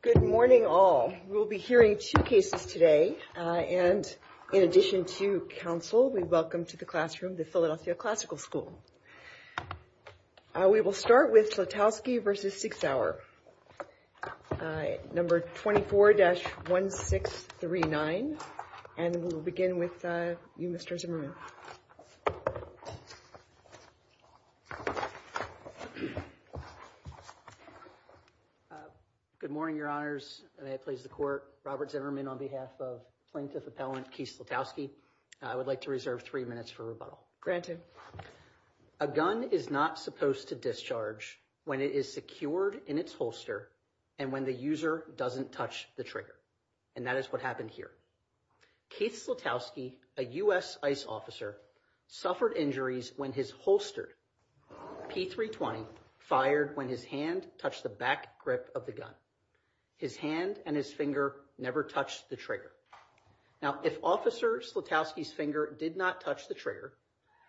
Good morning all. We'll be hearing two cases today, and in addition to counsel, we welcome to the classroom the Philadelphia Classical School. We will start with Slatowski v. Sig Sauer, number 24-1639, and we will begin with you, Mr. Zimmerman. Good morning, Your Honors. May it please the Court. Robert Zimmerman on behalf of Plaintiff Appellant Keith Slatowski. I would like to reserve three minutes for rebuttal. A gun is not supposed to discharge when it is secured in its holster and when the user doesn't touch the trigger, and that is what happened here. Keith Slatowski, a U.S. ICE officer, suffered injuries when his holstered P320 fired when his hand touched the back grip of the gun. His hand and his finger never touched the trigger. Now, if Officer Slatowski's finger did not touch the trigger,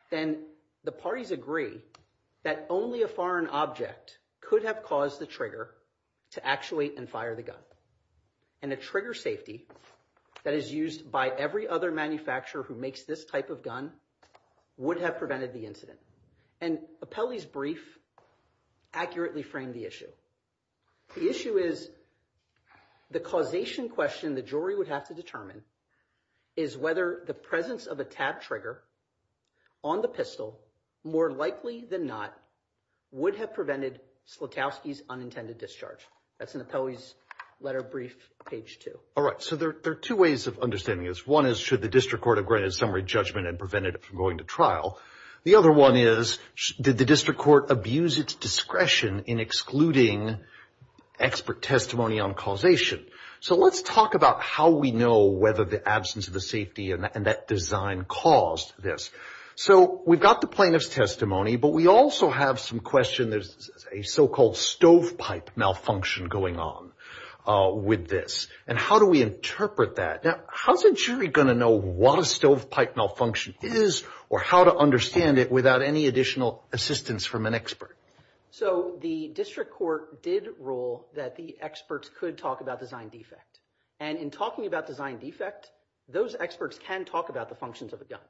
then the parties agree that only a foreign object could have caused the trigger to actuate and fire the gun. And a trigger safety that is used by every other manufacturer who makes this type of gun would have prevented the incident. And Appellee's brief accurately framed the issue. The issue is the causation question the jury would have to determine is whether the presence of a tap trigger on the pistol, more likely than not, would have prevented Slatowski's unintended discharge. That's in Appellee's letter brief, page two. All right, so there are two ways of understanding this. One is, should the district court have granted a summary judgment and prevented it from going to trial? The other one is, did the district court abuse its discretion in excluding expert testimony on causation? So let's talk about how we know whether the absence of the safety and that design caused this. So we've got the plaintiff's testimony, but we also have some question. There's a so-called stovepipe malfunction going on with this. And how do we interpret that? Now, how's a jury going to know what a stovepipe malfunction is or how to understand it without any additional assistance from an expert? So the district court did rule that the experts could talk about design defect. And in talking about design defect, those experts can talk about the functions of a gun.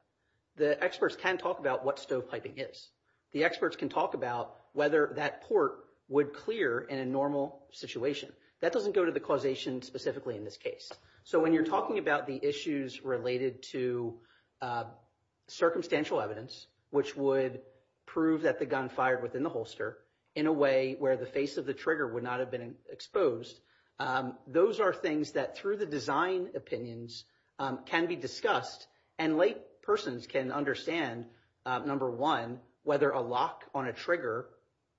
The experts can talk about what stove piping is. The experts can talk about whether that port would clear in a normal situation. That doesn't go to the causation specifically in this case. So when you're talking about the issues related to circumstantial evidence, which would prove that the gun fired within the holster in a way where the face of the trigger would not have been exposed, those are things that, through the design opinions, can be discussed. And laypersons can understand, number one, whether a lock on a trigger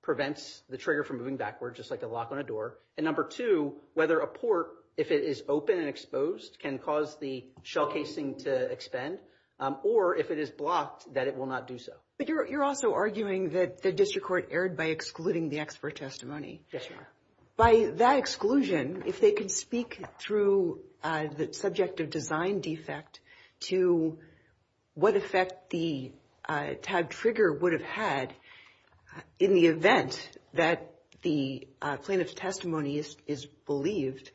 prevents the trigger from moving backwards, just like a lock on a door. And number two, whether a port, if it is open and exposed, can cause the shell casing to expend, or if it is blocked, that it will not do so. But you're also arguing that the district court erred by excluding the expert testimony. Yes, ma'am. By that exclusion, if they can speak through the subject of design defect to what effect the tagged trigger would have had in the event that the plaintiff's testimony is believed,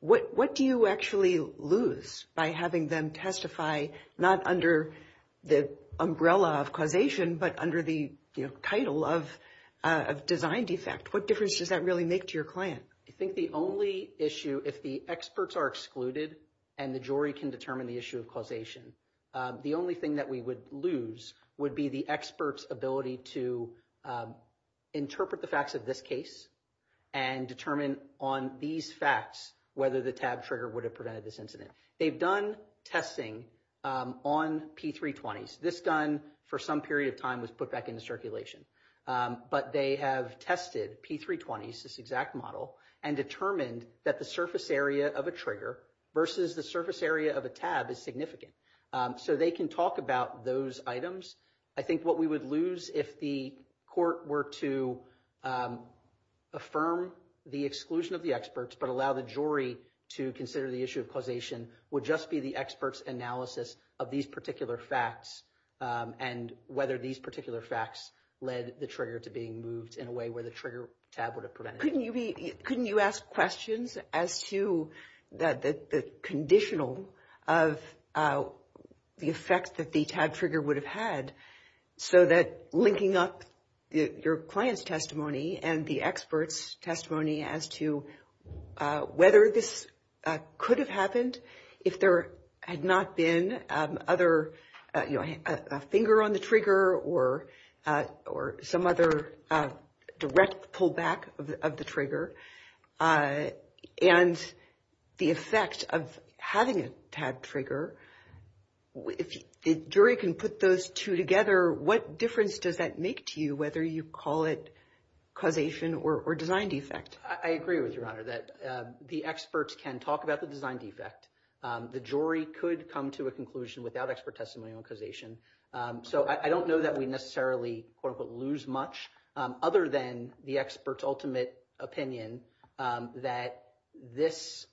what do you actually lose by having them testify, not under the umbrella of causation, but under the title of design defect? What difference does that really make to your client? I think the only issue, if the experts are excluded and the jury can determine the issue of causation, the only thing that we would lose would be the expert's ability to interpret the facts of this case and determine on these facts whether the tagged trigger would have prevented this incident. They've done testing on P320s. This gun, for some period of time, was put back into circulation. But they have tested P320s, this exact model, and determined that the surface area of a trigger versus the surface area of a tab is significant. So they can talk about those items. I think what we would lose if the court were to affirm the exclusion of the experts but allow the jury to consider the issue of causation would just be the expert's analysis of these particular facts and whether these particular facts led the trigger to being moved in a way where the trigger tab would have prevented it. Couldn't you ask questions as to the conditional of the effect that the tagged trigger would have had so that linking up your client's testimony and the expert's testimony as to whether this could have happened if there had not been other, you know, a finger on the trigger or some other direct pullback of the trigger? And the effect of having a tagged trigger, if the jury can put those two together, what difference does that make to you whether you call it causation or design defect? I agree with you, Your Honor, that the experts can talk about the design defect. The jury could come to a conclusion without expert testimony on causation. So I don't know that we necessarily, quote-unquote, lose much other than the expert's ultimate opinion that this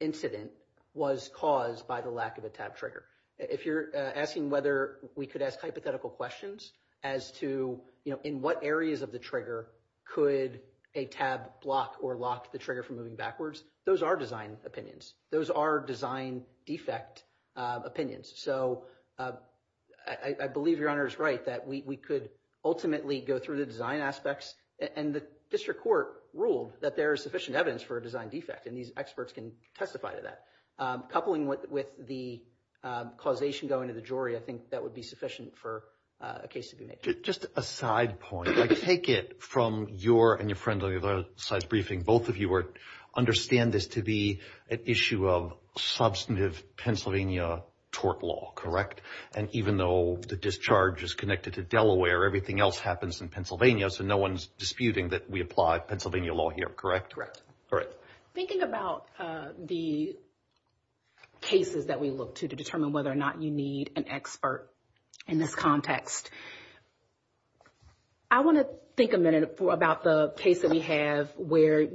incident was caused by the lack of a tagged trigger. If you're asking whether we could ask hypothetical questions as to, you know, in what areas of the trigger could a tab block or lock the trigger from moving backwards, those are design opinions. Those are design defect opinions. So I believe Your Honor is right that we could ultimately go through the design aspects. And the district court ruled that there is sufficient evidence for a design defect, and these experts can testify to that. Coupling with the causation going to the jury, I think that would be sufficient for a case to be made. Just a side point. I take it from your and your friend on the other side's briefing, both of you understand this to be an issue of substantive Pennsylvania tort law, correct? And even though the discharge is connected to Delaware, everything else happens in Pennsylvania, so no one's disputing that we apply Pennsylvania law here, correct? Thinking about the cases that we look to to determine whether or not you need an expert in this context, I want to think a minute about the case that we have where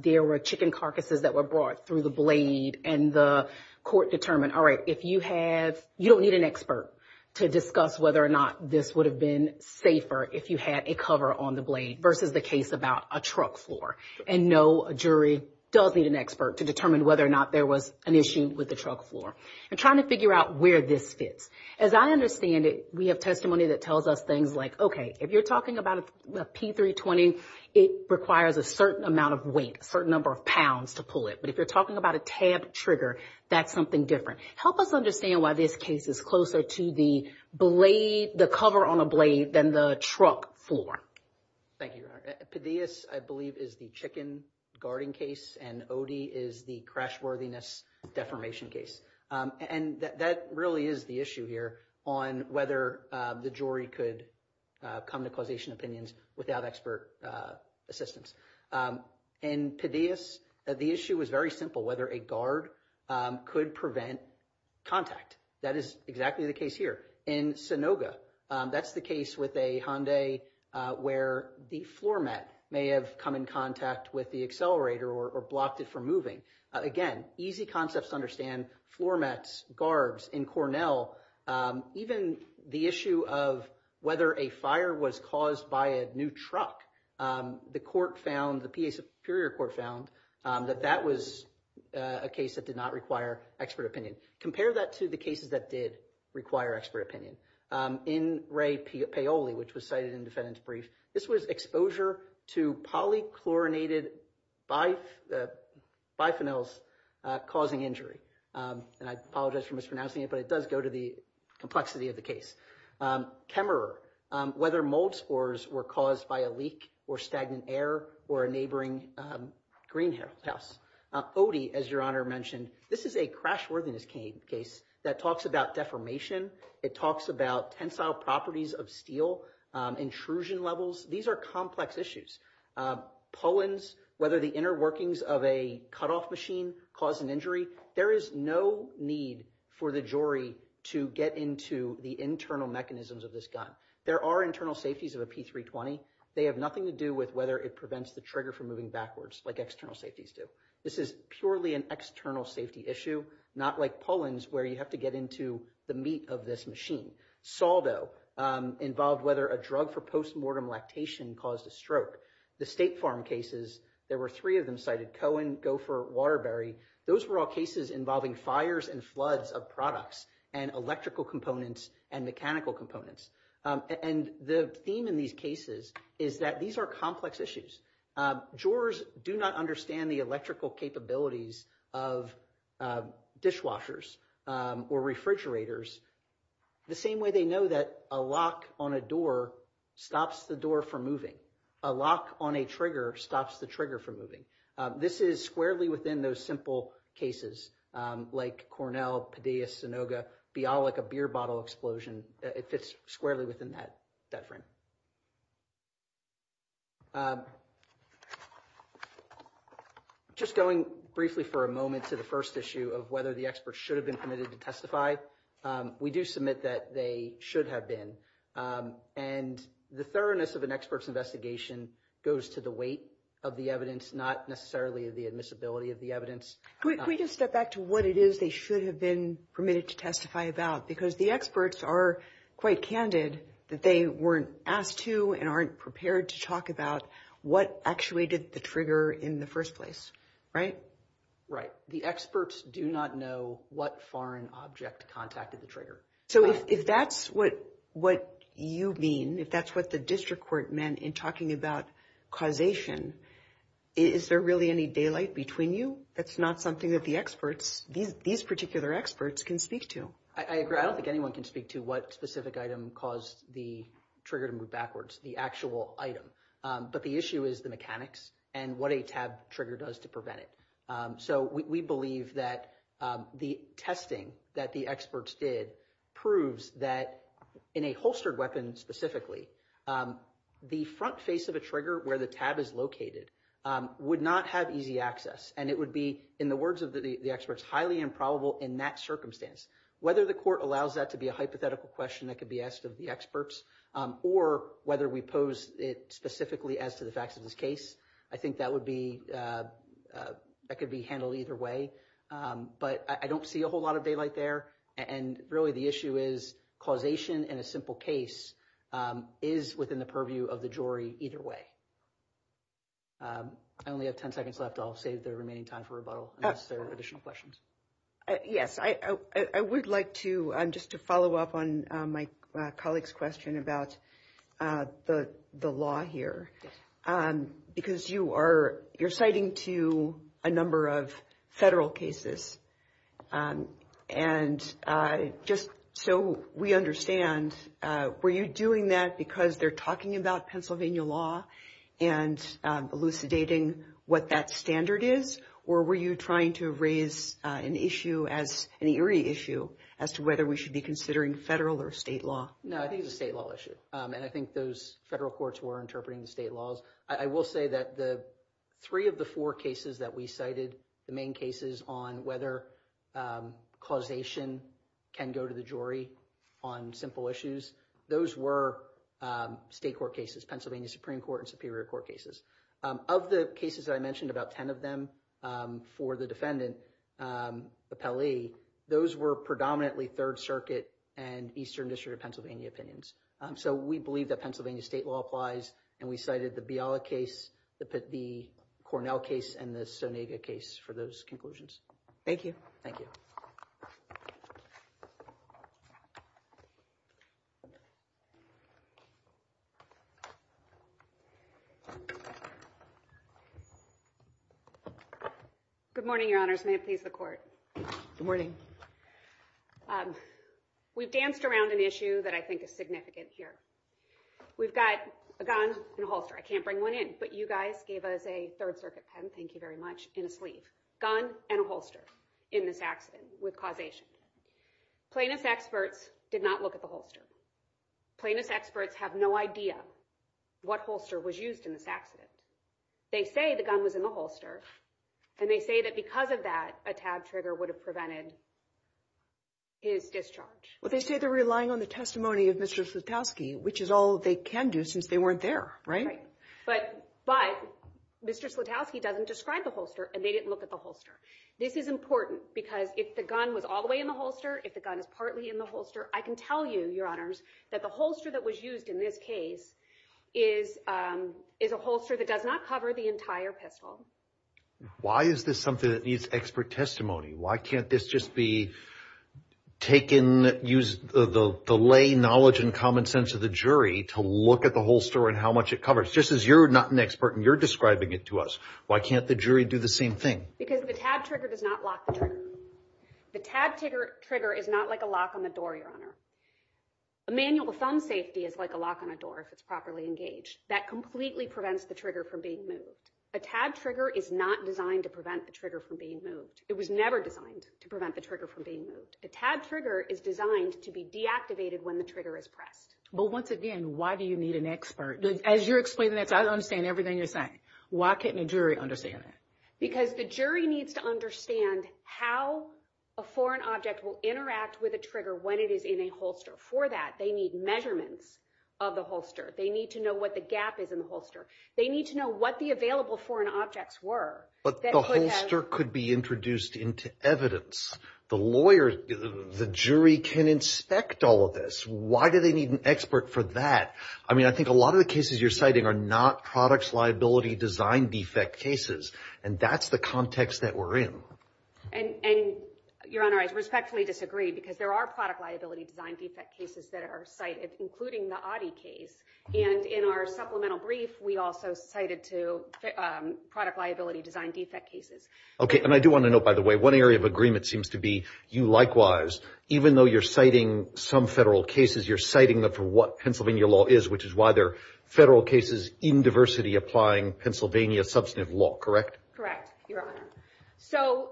there were chicken carcasses that were brought through the blade, and the court determined, all right, if you have, you don't need an expert to discuss whether or not this would have been safer if you had a cover on the blade versus the case about a truck floor. And no jury does need an expert to determine whether or not there was an issue with the truck floor. And trying to figure out where this fits. As I understand it, we have testimony that tells us things like, okay, if you're talking about a P-320, it requires a certain amount of weight, a certain number of pounds to pull it. But if you're talking about a tab trigger, that's something different. Help us understand why this case is closer to the cover on a blade than the truck floor. Thank you, Your Honor. Padillas, I believe, is the chicken guarding case, and Odie is the crashworthiness defamation case. And that really is the issue here on whether the jury could come to causation opinions without expert assistance. In Padillas, the issue was very simple, whether a guard could prevent contact. That is exactly the case here. In Sanoga, that's the case with a Hyundai where the floor mat may have come in contact with the accelerator or blocked it from moving. Again, easy concepts to understand, floor mats, guards. In Cornell, even the issue of whether a fire was caused by a new truck, the court found, the PA Superior Court found, that that was a case that did not require expert opinion. Compare that to the cases that did require expert opinion. In Ray Paoli, which was cited in the defendant's brief, this was exposure to polychlorinated biphenyls causing injury. And I apologize for mispronouncing it, but it does go to the complexity of the case. Kemmerer, whether mold spores were caused by a leak or stagnant air or a neighboring greenhouse. Odie, as Your Honor mentioned, this is a crashworthiness case that talks about defamation. It talks about tensile properties of steel, intrusion levels. These are complex issues. Pollens, whether the inner workings of a cutoff machine caused an injury. There is no need for the jury to get into the internal mechanisms of this gun. There are internal safeties of a P320. They have nothing to do with whether it prevents the trigger from moving backwards like external safeties do. This is purely an external safety issue, not like pollens where you have to get into the meat of this machine. Saldo involved whether a drug for postmortem lactation caused a stroke. The State Farm cases, there were three of them cited, Cohen, Gopher, Waterbury. Those were all cases involving fires and floods of products and electrical components and mechanical components. And the theme in these cases is that these are complex issues. Jurors do not understand the electrical capabilities of dishwashers or refrigerators. The same way they know that a lock on a door stops the door from moving. A lock on a trigger stops the trigger from moving. This is squarely within those simple cases like Cornell, Padilla, Sunoga, Bialik, a beer bottle explosion. It fits squarely within that frame. Just going briefly for a moment to the first issue of whether the experts should have been permitted to testify. We do submit that they should have been. And the thoroughness of an expert's investigation goes to the weight of the evidence, not necessarily the admissibility of the evidence. Can we just step back to what it is they should have been permitted to testify about? Because the experts are quite candid that they weren't asked to and aren't prepared to talk about what actuated the trigger in the first place. Right? Right. The experts do not know what foreign object contacted the trigger. So if that's what you mean, if that's what the district court meant in talking about causation, is there really any daylight between you? That's not something that the experts, these particular experts, can speak to. I agree. I don't think anyone can speak to what specific item caused the trigger to move backwards, the actual item. But the issue is the mechanics and what a tab trigger does to prevent it. So we believe that the testing that the experts did proves that in a holstered weapon specifically, the front face of a trigger where the tab is located would not have easy access. And it would be, in the words of the experts, highly improbable in that circumstance. Whether the court allows that to be a hypothetical question that could be asked of the experts or whether we pose it specifically as to the facts of this case, I think that would be, that could be handled either way. But I don't see a whole lot of daylight there. And really the issue is causation in a simple case is within the purview of the jury either way. I only have 10 seconds left. I'll save the remaining time for rebuttal unless there are additional questions. Yes, I would like to, just to follow up on my colleague's question about the law here. Because you are, you're citing to a number of federal cases. And just so we understand, were you doing that because they're talking about Pennsylvania law and elucidating what that standard is? Or were you trying to raise an issue as, an eerie issue as to whether we should be considering federal or state law? No, I think it's a state law issue. And I think those federal courts were interpreting the state laws. I will say that the three of the four cases that we cited, the main cases on whether causation can go to the jury on simple issues, those were state court cases, Pennsylvania Supreme Court and Superior Court cases. Of the cases that I mentioned, about 10 of them for the defendant, Appellee, those were predominantly Third Circuit and Eastern District of Pennsylvania opinions. So we believe that Pennsylvania state law applies. And we cited the Biala case, the Cornell case, and the Sonega case for those conclusions. Thank you. Thank you. Good morning, Your Honors. May it please the Court. Good morning. We've danced around an issue that I think is significant here. We've got a gun and a holster. I can't bring one in, but you guys gave us a Third Circuit pen, thank you very much, in a sleeve. Gun and a holster in this accident with causation. Plaintiff's experts did not look at the holster. Plaintiff's experts have no idea what holster was used in this accident. They say the gun was in the holster, and they say that because of that, a tab trigger would have prevented his discharge. Well, they say they're relying on the testimony of Mr. Slutowski, which is all they can do since they weren't there, right? But Mr. Slutowski doesn't describe the holster, and they didn't look at the holster. This is important because if the gun was all the way in the holster, if the gun is partly in the holster, I can tell you, Your Honors, that the holster that was used in this case is a holster that does not cover the entire pistol. Why is this something that needs expert testimony? Why can't this just be taken, use the lay knowledge and common sense of the jury to look at the holster and how much it covers? Just as you're not an expert and you're describing it to us, why can't the jury do the same thing? Because the tab trigger does not lock the trigger. The tab trigger is not like a lock on the door, Your Honor. A manual thumb safety is like a lock on a door if it's properly engaged. That completely prevents the trigger from being moved. A tab trigger is not designed to prevent the trigger from being moved. It was never designed to prevent the trigger from being moved. A tab trigger is designed to be deactivated when the trigger is pressed. But once again, why do you need an expert? As you're explaining that to us, I understand everything you're saying. Why can't the jury understand that? Because the jury needs to understand how a foreign object will interact with a trigger when it is in a holster. For that, they need measurements of the holster. They need to know what the gap is in the holster. They need to know what the available foreign objects were. But the holster could be introduced into evidence. The jury can inspect all of this. Why do they need an expert for that? I mean, I think a lot of the cases you're citing are not products, liability, design defect cases. And that's the context that we're in. And, Your Honor, I respectfully disagree because there are product liability design defect cases that are cited, including the Adi case. And in our supplemental brief, we also cited two product liability design defect cases. Okay. And I do want to note, by the way, one area of agreement seems to be you likewise, even though you're citing some federal cases, you're citing them for what Pennsylvania law is, which is why there are federal cases in diversity applying Pennsylvania substantive law, correct? Correct, Your Honor. So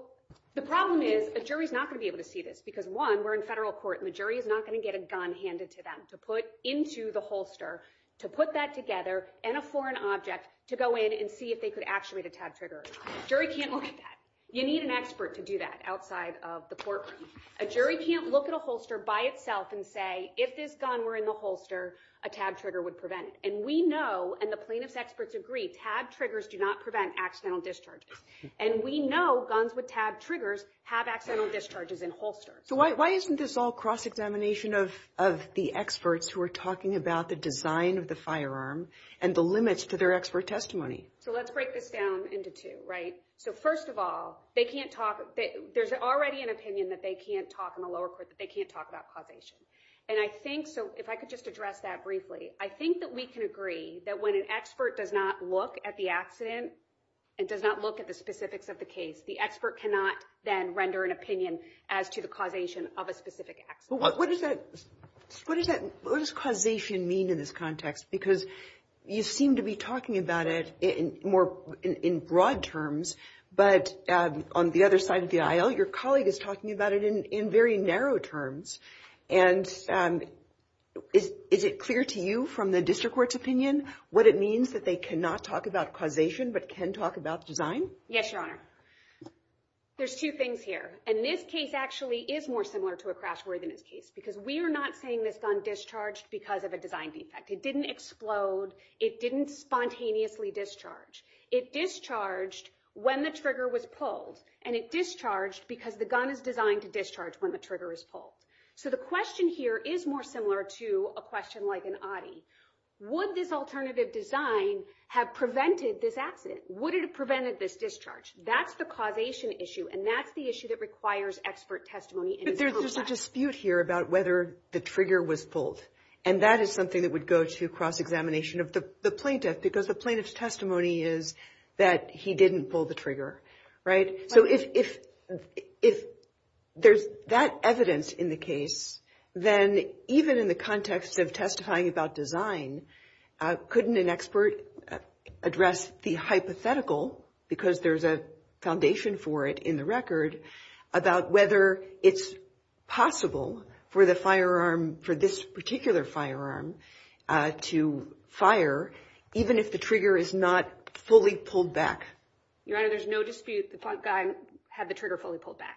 the problem is a jury is not going to be able to see this because, one, we're in federal court, and the jury is not going to get a gun handed to them to put into the holster to put that together and a foreign object to go in and see if they could actuate a tab trigger. A jury can't look at that. You need an expert to do that outside of the courtroom. A jury can't look at a holster by itself and say, if this gun were in the holster, a tab trigger would prevent it. And we know, and the plaintiff's experts agree, tab triggers do not prevent accidental discharges. And we know guns with tab triggers have accidental discharges in holsters. So why isn't this all cross-examination of the experts who are talking about the design of the firearm and the limits to their expert testimony? So let's break this down into two, right? So first of all, there's already an opinion that they can't talk in the lower court, that they can't talk about causation. And I think, so if I could just address that briefly, I think that we can agree that when an expert does not look at the accident and does not look at the specifics of the case, the expert cannot then render an opinion as to the causation of a specific accident. What does causation mean in this context? Because you seem to be talking about it in broad terms, but on the other side of the aisle, your colleague is talking about it in very narrow terms. And is it clear to you from the district court's opinion what it means that they cannot talk about causation but can talk about design? Yes, Your Honor. There's two things here. And this case actually is more similar to a crash warrant than this case because we are not saying this gun discharged because of a design defect. It didn't explode. It didn't spontaneously discharge. It discharged when the trigger was pulled, and it discharged because the gun is designed to discharge when the trigger is pulled. So the question here is more similar to a question like an oddy. Would this alternative design have prevented this accident? Would it have prevented this discharge? That's the causation issue, and that's the issue that requires expert testimony. But there's a dispute here about whether the trigger was pulled, and that is something that would go to cross-examination of the plaintiff because the plaintiff's testimony is that he didn't pull the trigger, right? So if there's that evidence in the case, then even in the context of testifying about design, couldn't an expert address the hypothetical, because there's a foundation for it in the record, about whether it's possible for the firearm, for this particular firearm, to fire even if the trigger is not fully pulled back? Your Honor, there's no dispute the guy had the trigger fully pulled back.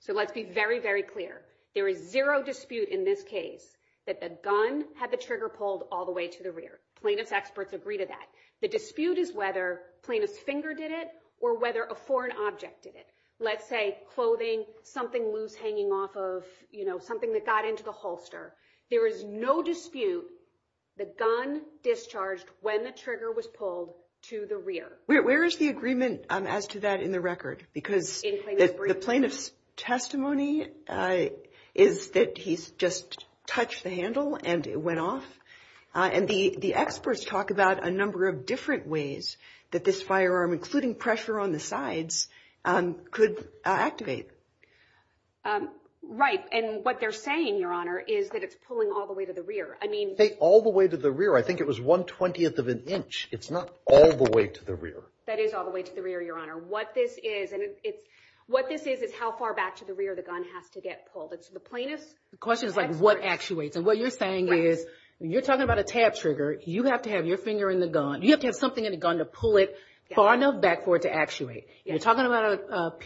So let's be very, very clear. There is zero dispute in this case that the gun had the trigger pulled all the way to the rear. Plaintiff's experts agree to that. The dispute is whether plaintiff's finger did it or whether a foreign object did it. Let's say clothing, something loose hanging off of, you know, something that got into the holster. There is no dispute the gun discharged when the trigger was pulled to the rear. Where is the agreement as to that in the record? Because the plaintiff's testimony is that he just touched the handle and it went off. And the experts talk about a number of different ways that this firearm, including pressure on the sides, could activate. Right. And what they're saying, Your Honor, is that it's pulling all the way to the rear. I mean— All the way to the rear. I think it was 1 20th of an inch. It's not all the way to the rear. That is all the way to the rear, Your Honor. What this is is how far back to the rear the gun has to get pulled. So the plaintiff's experts— The question is, like, what actuates? And what you're saying is, you're talking about a tab trigger. You have to have your finger in the gun. You have to have something in the gun to pull it far enough back for it to actuate. If you're talking about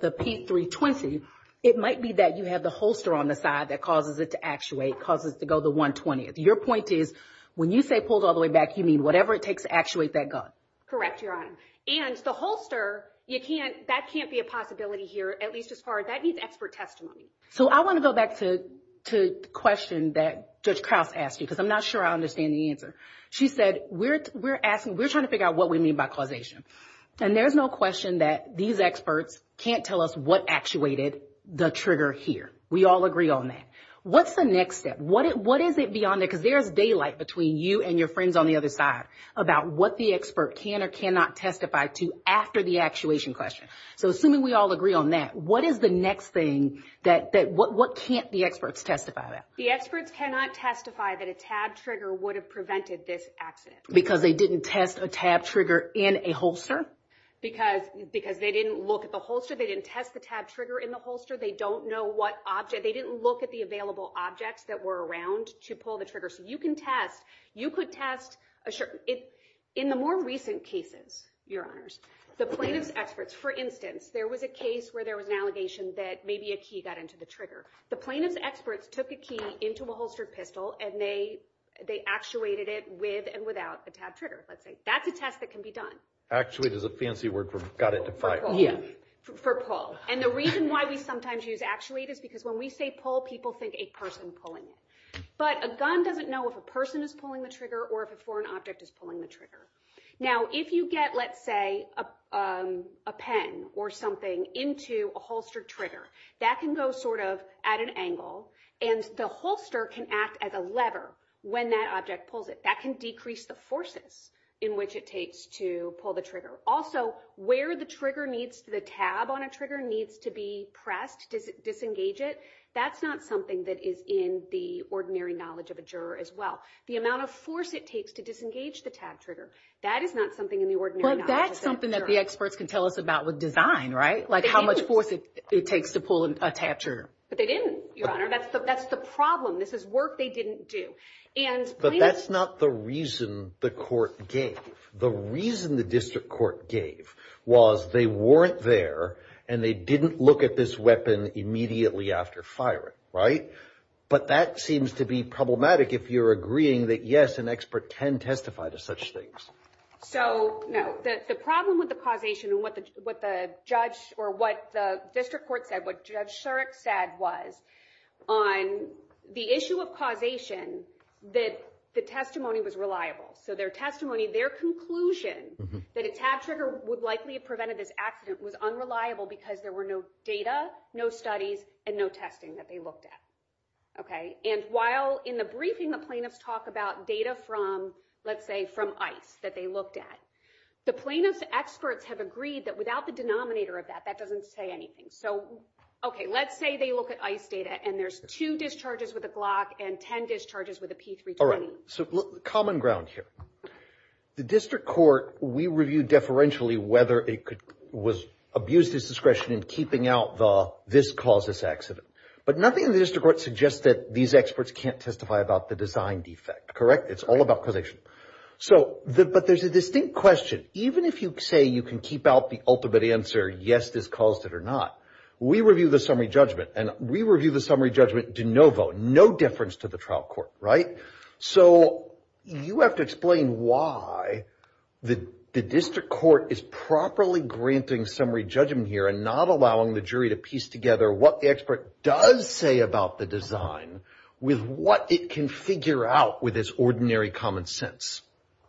the P320, it might be that you have the holster on the side that causes it to actuate, causes it to go the 1 20th. Your point is, when you say pulled all the way back, you mean whatever it takes to actuate that gun. Correct, Your Honor. And the holster, that can't be a possibility here, at least as far as—that needs expert testimony. So I want to go back to the question that Judge Krause asked you, because I'm not sure I understand the answer. She said, we're trying to figure out what we mean by causation. And there's no question that these experts can't tell us what actuated the trigger here. We all agree on that. What's the next step? What is it beyond that? Because there is daylight between you and your friends on the other side about what the expert can or cannot testify to after the actuation question. So assuming we all agree on that, what is the next thing that—what can't the experts testify to? The experts cannot testify that a tab trigger would have prevented this accident. Because they didn't test a tab trigger in a holster? Because they didn't look at the holster. They didn't test the tab trigger in the holster. They don't know what object—they didn't look at the available objects that were around to pull the trigger. So you can test—you could test a—in the more recent cases, Your Honors, the plaintiff's experts—for instance, there was a case where there was an allegation that maybe a key got into the trigger. The plaintiff's experts took a key into a holstered pistol, and they actuated it with and without a tab trigger, let's say. That's a test that can be done. Actuate is a fancy word for got it to fire. For pull. And the reason why we sometimes use actuate is because when we say pull, people think a person pulling it. But a gun doesn't know if a person is pulling the trigger or if a foreign object is pulling the trigger. Now, if you get, let's say, a pen or something into a holstered trigger, that can go sort of at an angle, and the holster can act as a lever when that object pulls it. That can decrease the forces in which it takes to pull the trigger. Also, where the trigger needs—the tab on a trigger needs to be pressed to disengage it, that's not something that is in the ordinary knowledge of a juror as well. The amount of force it takes to disengage the tab trigger, that is not something in the ordinary knowledge of a juror. But that's something that the experts can tell us about with design, right? Like how much force it takes to pull a tab trigger. But they didn't, Your Honor. That's the problem. This is work they didn't do. But that's not the reason the court gave. The reason the district court gave was they weren't there, and they didn't look at this weapon immediately after firing, right? But that seems to be problematic if you're agreeing that, yes, an expert can testify to such things. So, no. The problem with the causation and what the judge or what the district court said, what Judge Shurek said was on the issue of causation, that the testimony was reliable. So their testimony, their conclusion that a tab trigger would likely have prevented this accident was unreliable because there were no data, no studies, and no testing that they looked at, okay? And while in the briefing the plaintiffs talk about data from, let's say, from ICE that they looked at, the plaintiffs' experts have agreed that without the denominator of that, that doesn't say anything. So, okay, let's say they look at ICE data, and there's two discharges with a Glock and ten discharges with a P320. All right. So common ground here. The district court, we review deferentially whether it was abused its discretion in keeping out the this caused this accident. But nothing in the district court suggests that these experts can't testify about the design defect, correct? It's all about causation. But there's a distinct question. Even if you say you can keep out the ultimate answer, yes, this caused it or not, we review the summary judgment, and we review the summary judgment de novo, no difference to the trial court, right? So you have to explain why the district court is properly granting summary judgment here and not allowing the jury to piece together what the expert does say about the design with what it can figure out with its ordinary common sense.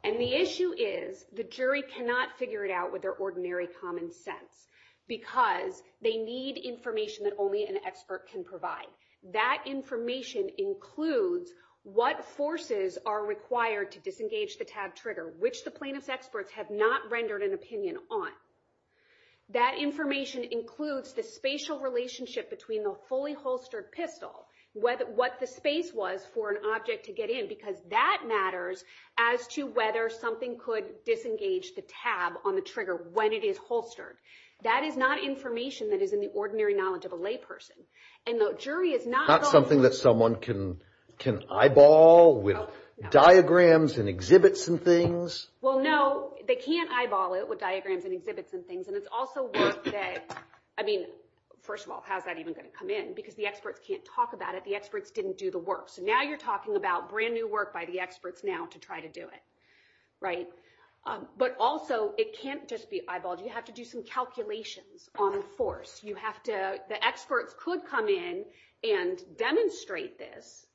And the issue is the jury cannot figure it out with their ordinary common sense because they need information that only an expert can provide. That information includes what forces are required to disengage the tab trigger, which the plaintiff's experts have not rendered an opinion on. That information includes the spatial relationship between the fully holstered pistol, what the space was for an object to get in because that matters as to whether something could disengage the tab on the trigger when it is holstered. That is not information that is in the ordinary knowledge of a layperson. And the jury is not going to... Not something that someone can eyeball with diagrams and exhibits and things. Well, no, they can't eyeball it with diagrams and exhibits and things. And it's also work that, I mean, first of all, how is that even going to come in? Because the experts can't talk about it. The experts didn't do the work. So now you're talking about brand-new work by the experts now to try to do it, right? But also it can't just be eyeballed. You have to do some calculations on force. The experts could come in and demonstrate this.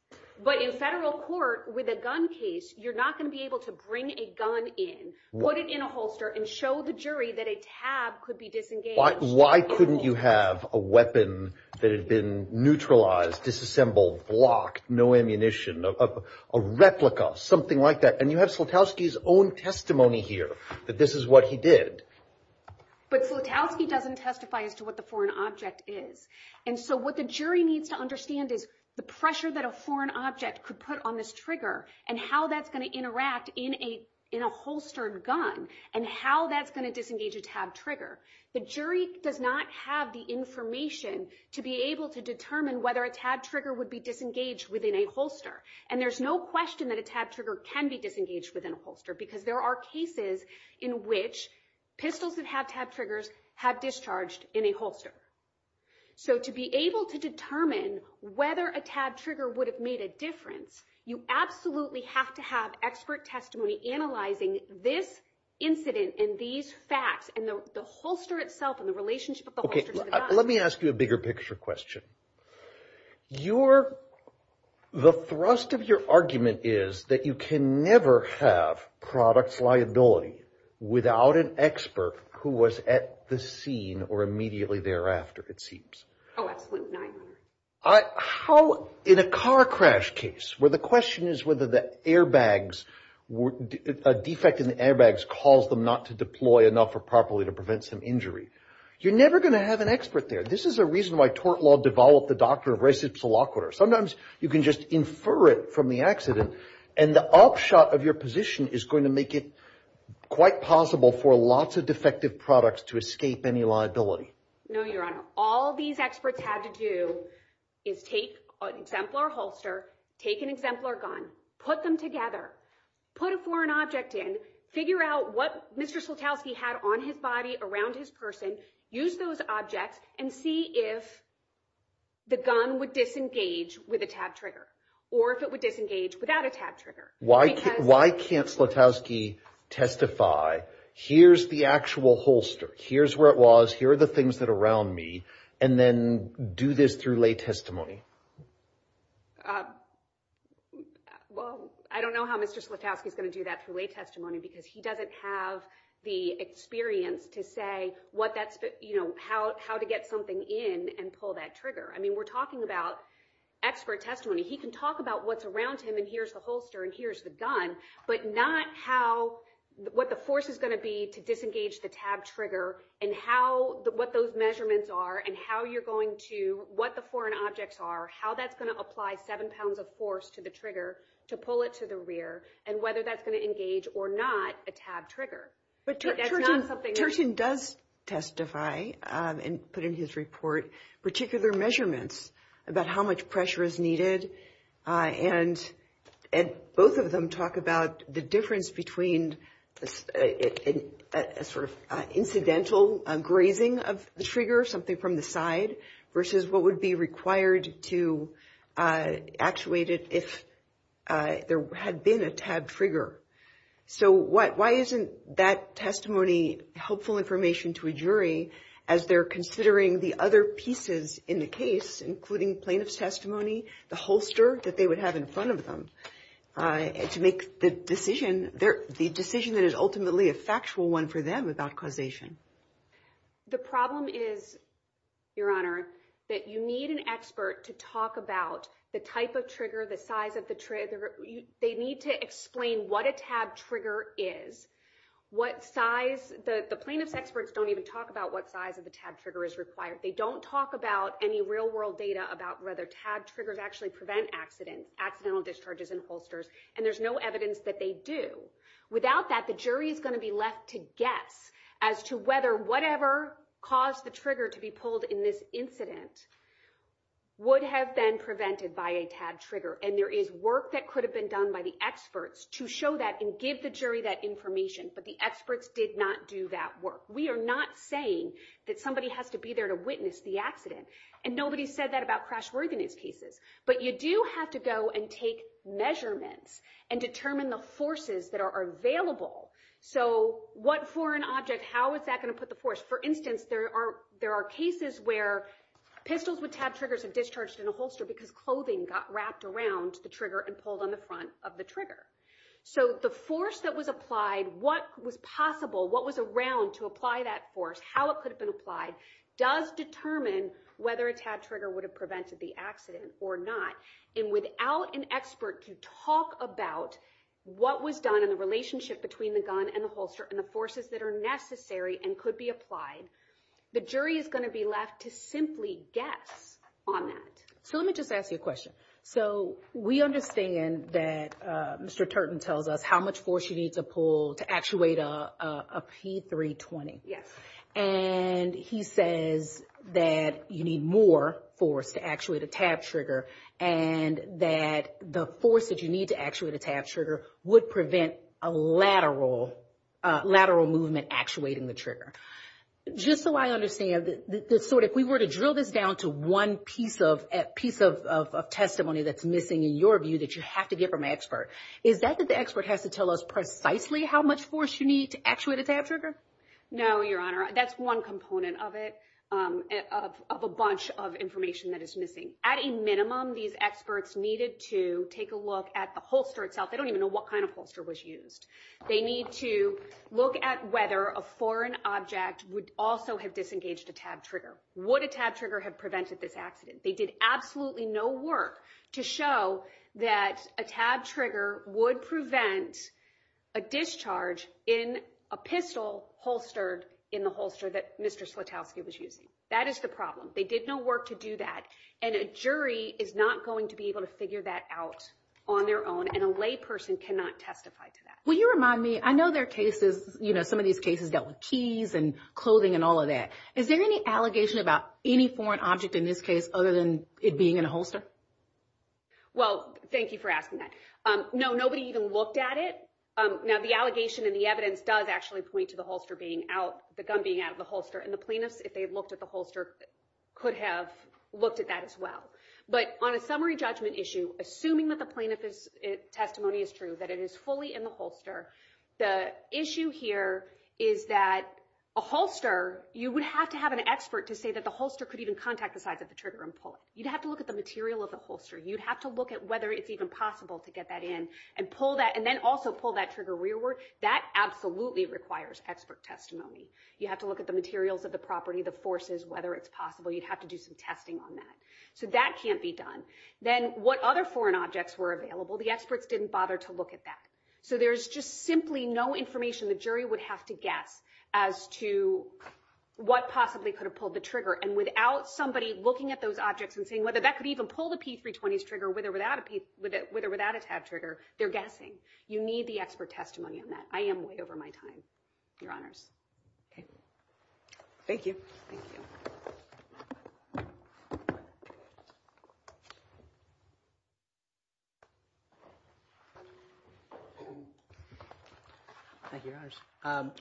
But in federal court, with a gun case, you're not going to be able to bring a gun in, put it in a holster, and show the jury that a tab could be disengaged. Why couldn't you have a weapon that had been neutralized, disassembled, blocked, no ammunition, a replica, something like that? And you have Slutowski's own testimony here that this is what he did. But Slutowski doesn't testify as to what the foreign object is. And so what the jury needs to understand is the pressure that a foreign object could put on this trigger and how that's going to interact in a holstered gun and how that's going to disengage a tab trigger. The jury does not have the information to be able to determine whether a tab trigger would be disengaged within a holster. And there's no question that a tab trigger can be disengaged within a holster because there are cases in which pistols that have tab triggers have discharged in a holster. So to be able to determine whether a tab trigger would have made a difference, you absolutely have to have expert testimony analyzing this incident and these facts and the holster itself and the relationship of the holster to the gun. Okay, let me ask you a bigger picture question. You're – the thrust of your argument is that you can never have products liability without an expert who was at the scene or immediately thereafter, it seems. Oh, absolutely not. How – in a car crash case where the question is whether the airbags – a defect in the airbags caused them not to deploy enough or properly to prevent some injury, you're never going to have an expert there. This is a reason why tort law developed the doctrine of res ipsa loquitur. Sometimes you can just infer it from the accident, and the upshot of your position is going to make it quite possible for lots of defective products to escape any liability. No, Your Honor. All these experts had to do is take an exemplar holster, take an exemplar gun, put them together, put a foreign object in, figure out what Mr. Slutowski had on his body around his person, use those objects, and see if the gun would disengage with a tab trigger or if it would disengage without a tab trigger. Why can't Slutowski testify, here's the actual holster, here's where it was, here are the things that are around me, and then do this through lay testimony? Well, I don't know how Mr. Slutowski is going to do that through lay testimony because he doesn't have the experience to say how to get something in and pull that trigger. We're talking about expert testimony. He can talk about what's around him, and here's the holster, and here's the gun, but not what the force is going to be to disengage the tab trigger and what those measurements are and what the foreign objects are, how that's going to apply seven pounds of force to the trigger to pull it to the rear, and whether that's going to engage or not a tab trigger. But Turton does testify and put in his report particular measurements about how much pressure is needed, and both of them talk about the difference between a sort of incidental grazing of the trigger, something from the side, versus what would be required to actuate it if there had been a tab trigger. So why isn't that testimony helpful information to a jury as they're considering the other pieces in the case, including plaintiff's testimony, the holster that they would have in front of them, to make the decision that is ultimately a factual one for them about causation? The problem is, Your Honor, that you need an expert to talk about the type of trigger, the size of the trigger. They need to explain what a tab trigger is, what size. The plaintiff's experts don't even talk about what size of the tab trigger is required. They don't talk about any real-world data about whether tab triggers actually prevent accidental discharges in holsters, and there's no evidence that they do. Without that, the jury is going to be left to guess as to whether whatever caused the trigger to be pulled in this incident would have been prevented by a tab trigger, and there is work that could have been done by the experts to show that and give the jury that information, but the experts did not do that work. We are not saying that somebody has to be there to witness the accident, and nobody said that about crash-worthiness cases, but you do have to go and take measurements and determine the forces that are available. So what for an object, how is that going to put the force? For instance, there are cases where pistols with tab triggers are discharged in a holster because clothing got wrapped around the trigger and pulled on the front of the trigger. So the force that was applied, what was possible, what was around to apply that force, how it could have been applied does determine whether a tab trigger would have prevented the accident or not. And without an expert to talk about what was done and the relationship between the gun and the holster and the forces that are necessary and could be applied, the jury is going to be left to simply guess on that. So let me just ask you a question. So we understand that Mr. Turton tells us how much force you need to pull to actuate a P320. Yes. And he says that you need more force to actuate a tab trigger and that the force that you need to actuate a tab trigger would prevent a lateral movement actuating the trigger. Just so I understand, if we were to drill this down to one piece of testimony that's missing, in your view, that you have to get from an expert, is that that the expert has to tell us precisely how much force you need to actuate a tab trigger? No, Your Honor. That's one component of it, of a bunch of information that is missing. At a minimum, these experts needed to take a look at the holster itself. They don't even know what kind of holster was used. They need to look at whether a foreign object would also have disengaged a tab trigger. Would a tab trigger have prevented this accident? They did absolutely no work to show that a tab trigger would prevent a discharge in a pistol holstered in the holster that Mr. Slutowski was using. That is the problem. They did no work to do that, and a jury is not going to be able to figure that out on their own, and a layperson cannot testify to that. Will you remind me, I know there are cases, you know, some of these cases dealt with keys and clothing and all of that. Is there any allegation about any foreign object in this case other than it being in a holster? Well, thank you for asking that. No, nobody even looked at it. Now, the allegation and the evidence does actually point to the holster being out, the gun being out of the holster, and the plaintiffs, if they had looked at the holster, could have looked at that as well. But on a summary judgment issue, assuming that the plaintiff's testimony is true, that it is fully in the holster, the issue here is that a holster, you would have to have an expert to say that the holster could even contact the sides of the trigger and pull it. You'd have to look at the material of the holster. You'd have to look at whether it's even possible to get that in and pull that, and then also pull that trigger rearward. That absolutely requires expert testimony. You have to look at the materials of the property, the forces, whether it's possible. You'd have to do some testing on that. So that can't be done. Then what other foreign objects were available, the experts didn't bother to look at that. So there's just simply no information the jury would have to guess as to what possibly could have pulled the trigger. And without somebody looking at those objects and saying whether that could even pull the P320's trigger with or without a tab trigger, they're guessing. You need the expert testimony on that. I am way over my time, Your Honors. Okay. Thank you. Thank you. Thank you, Your Honors.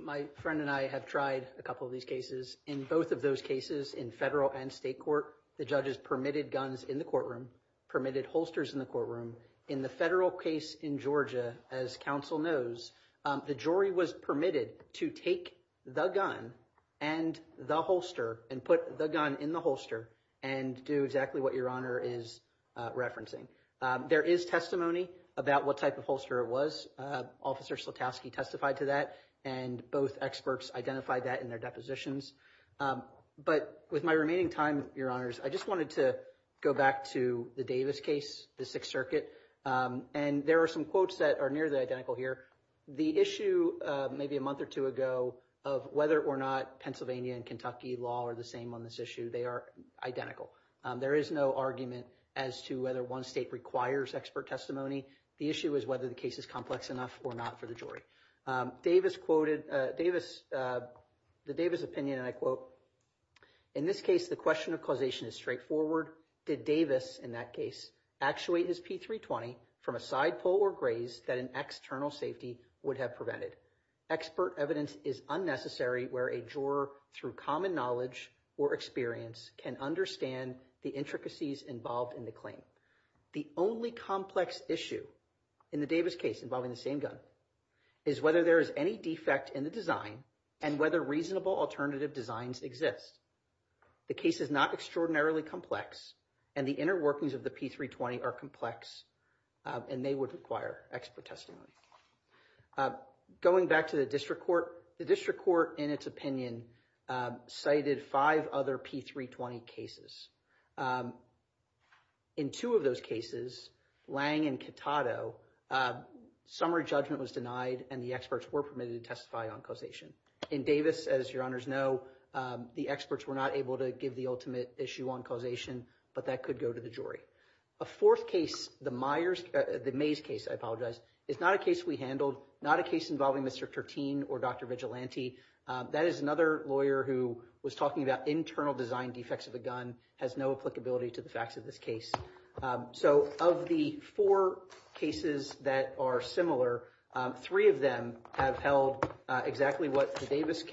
My friend and I have tried a couple of these cases. In both of those cases, in federal and state court, the judges permitted guns in the courtroom, permitted holsters in the courtroom. In the federal case in Georgia, as counsel knows, the jury was permitted to take the gun and the holster and put the gun in the holster and do exactly what Your Honor is referencing. There is testimony about what type of holster it was. Officer Slotowski testified to that, and both experts identified that in their depositions. But with my remaining time, Your Honors, I just wanted to go back to the Davis case, the Sixth Circuit. And there are some quotes that are nearly identical here. The issue maybe a month or two ago of whether or not Pennsylvania and Kentucky law are the same on this issue, they are identical. There is no argument as to whether one state requires expert testimony. The issue is whether the case is complex enough or not for the jury. Davis quoted, the Davis opinion, and I quote, in this case, the question of causation is straightforward. Did Davis, in that case, actuate his P320 from a side pull or graze that an external safety would have prevented? Expert evidence is unnecessary where a juror, through common knowledge or experience, can understand the intricacies involved in the claim. The only complex issue in the Davis case involving the same gun is whether there is any defect in the design and whether reasonable alternative designs exist. The case is not extraordinarily complex, and the inner workings of the P320 are complex, and they would require expert testimony. Going back to the district court, the district court, in its opinion, cited five other P320 cases. In two of those cases, Lang and Catato, summary judgment was denied and the experts were permitted to testify on causation. In Davis, as your honors know, the experts were not able to give the ultimate issue on causation, but that could go to the jury. A fourth case, the Mays case, I apologize, is not a case we handled, not a case involving Mr. Tertin or Dr. Vigilante. That is another lawyer who was talking about internal design defects of the gun has no applicability to the facts of this case. So of the four cases that are similar, three of them have held exactly what the Davis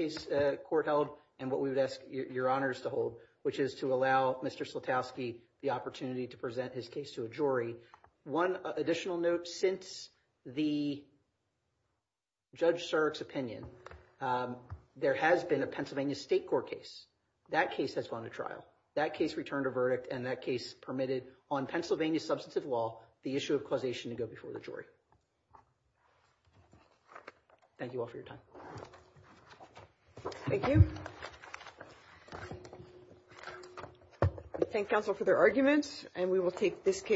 court held and what we would ask your honors to hold, which is to allow Mr. Slutowski the opportunity to present his case to a jury. One additional note, since the Judge Surik's opinion, there has been a Pennsylvania State Court case. That case has gone to trial. That case returned a verdict, and that case permitted on Pennsylvania substantive law the issue of causation to go before the jury. Thank you all for your time. Thank you. Thank counsel for their arguments, and we will take this case.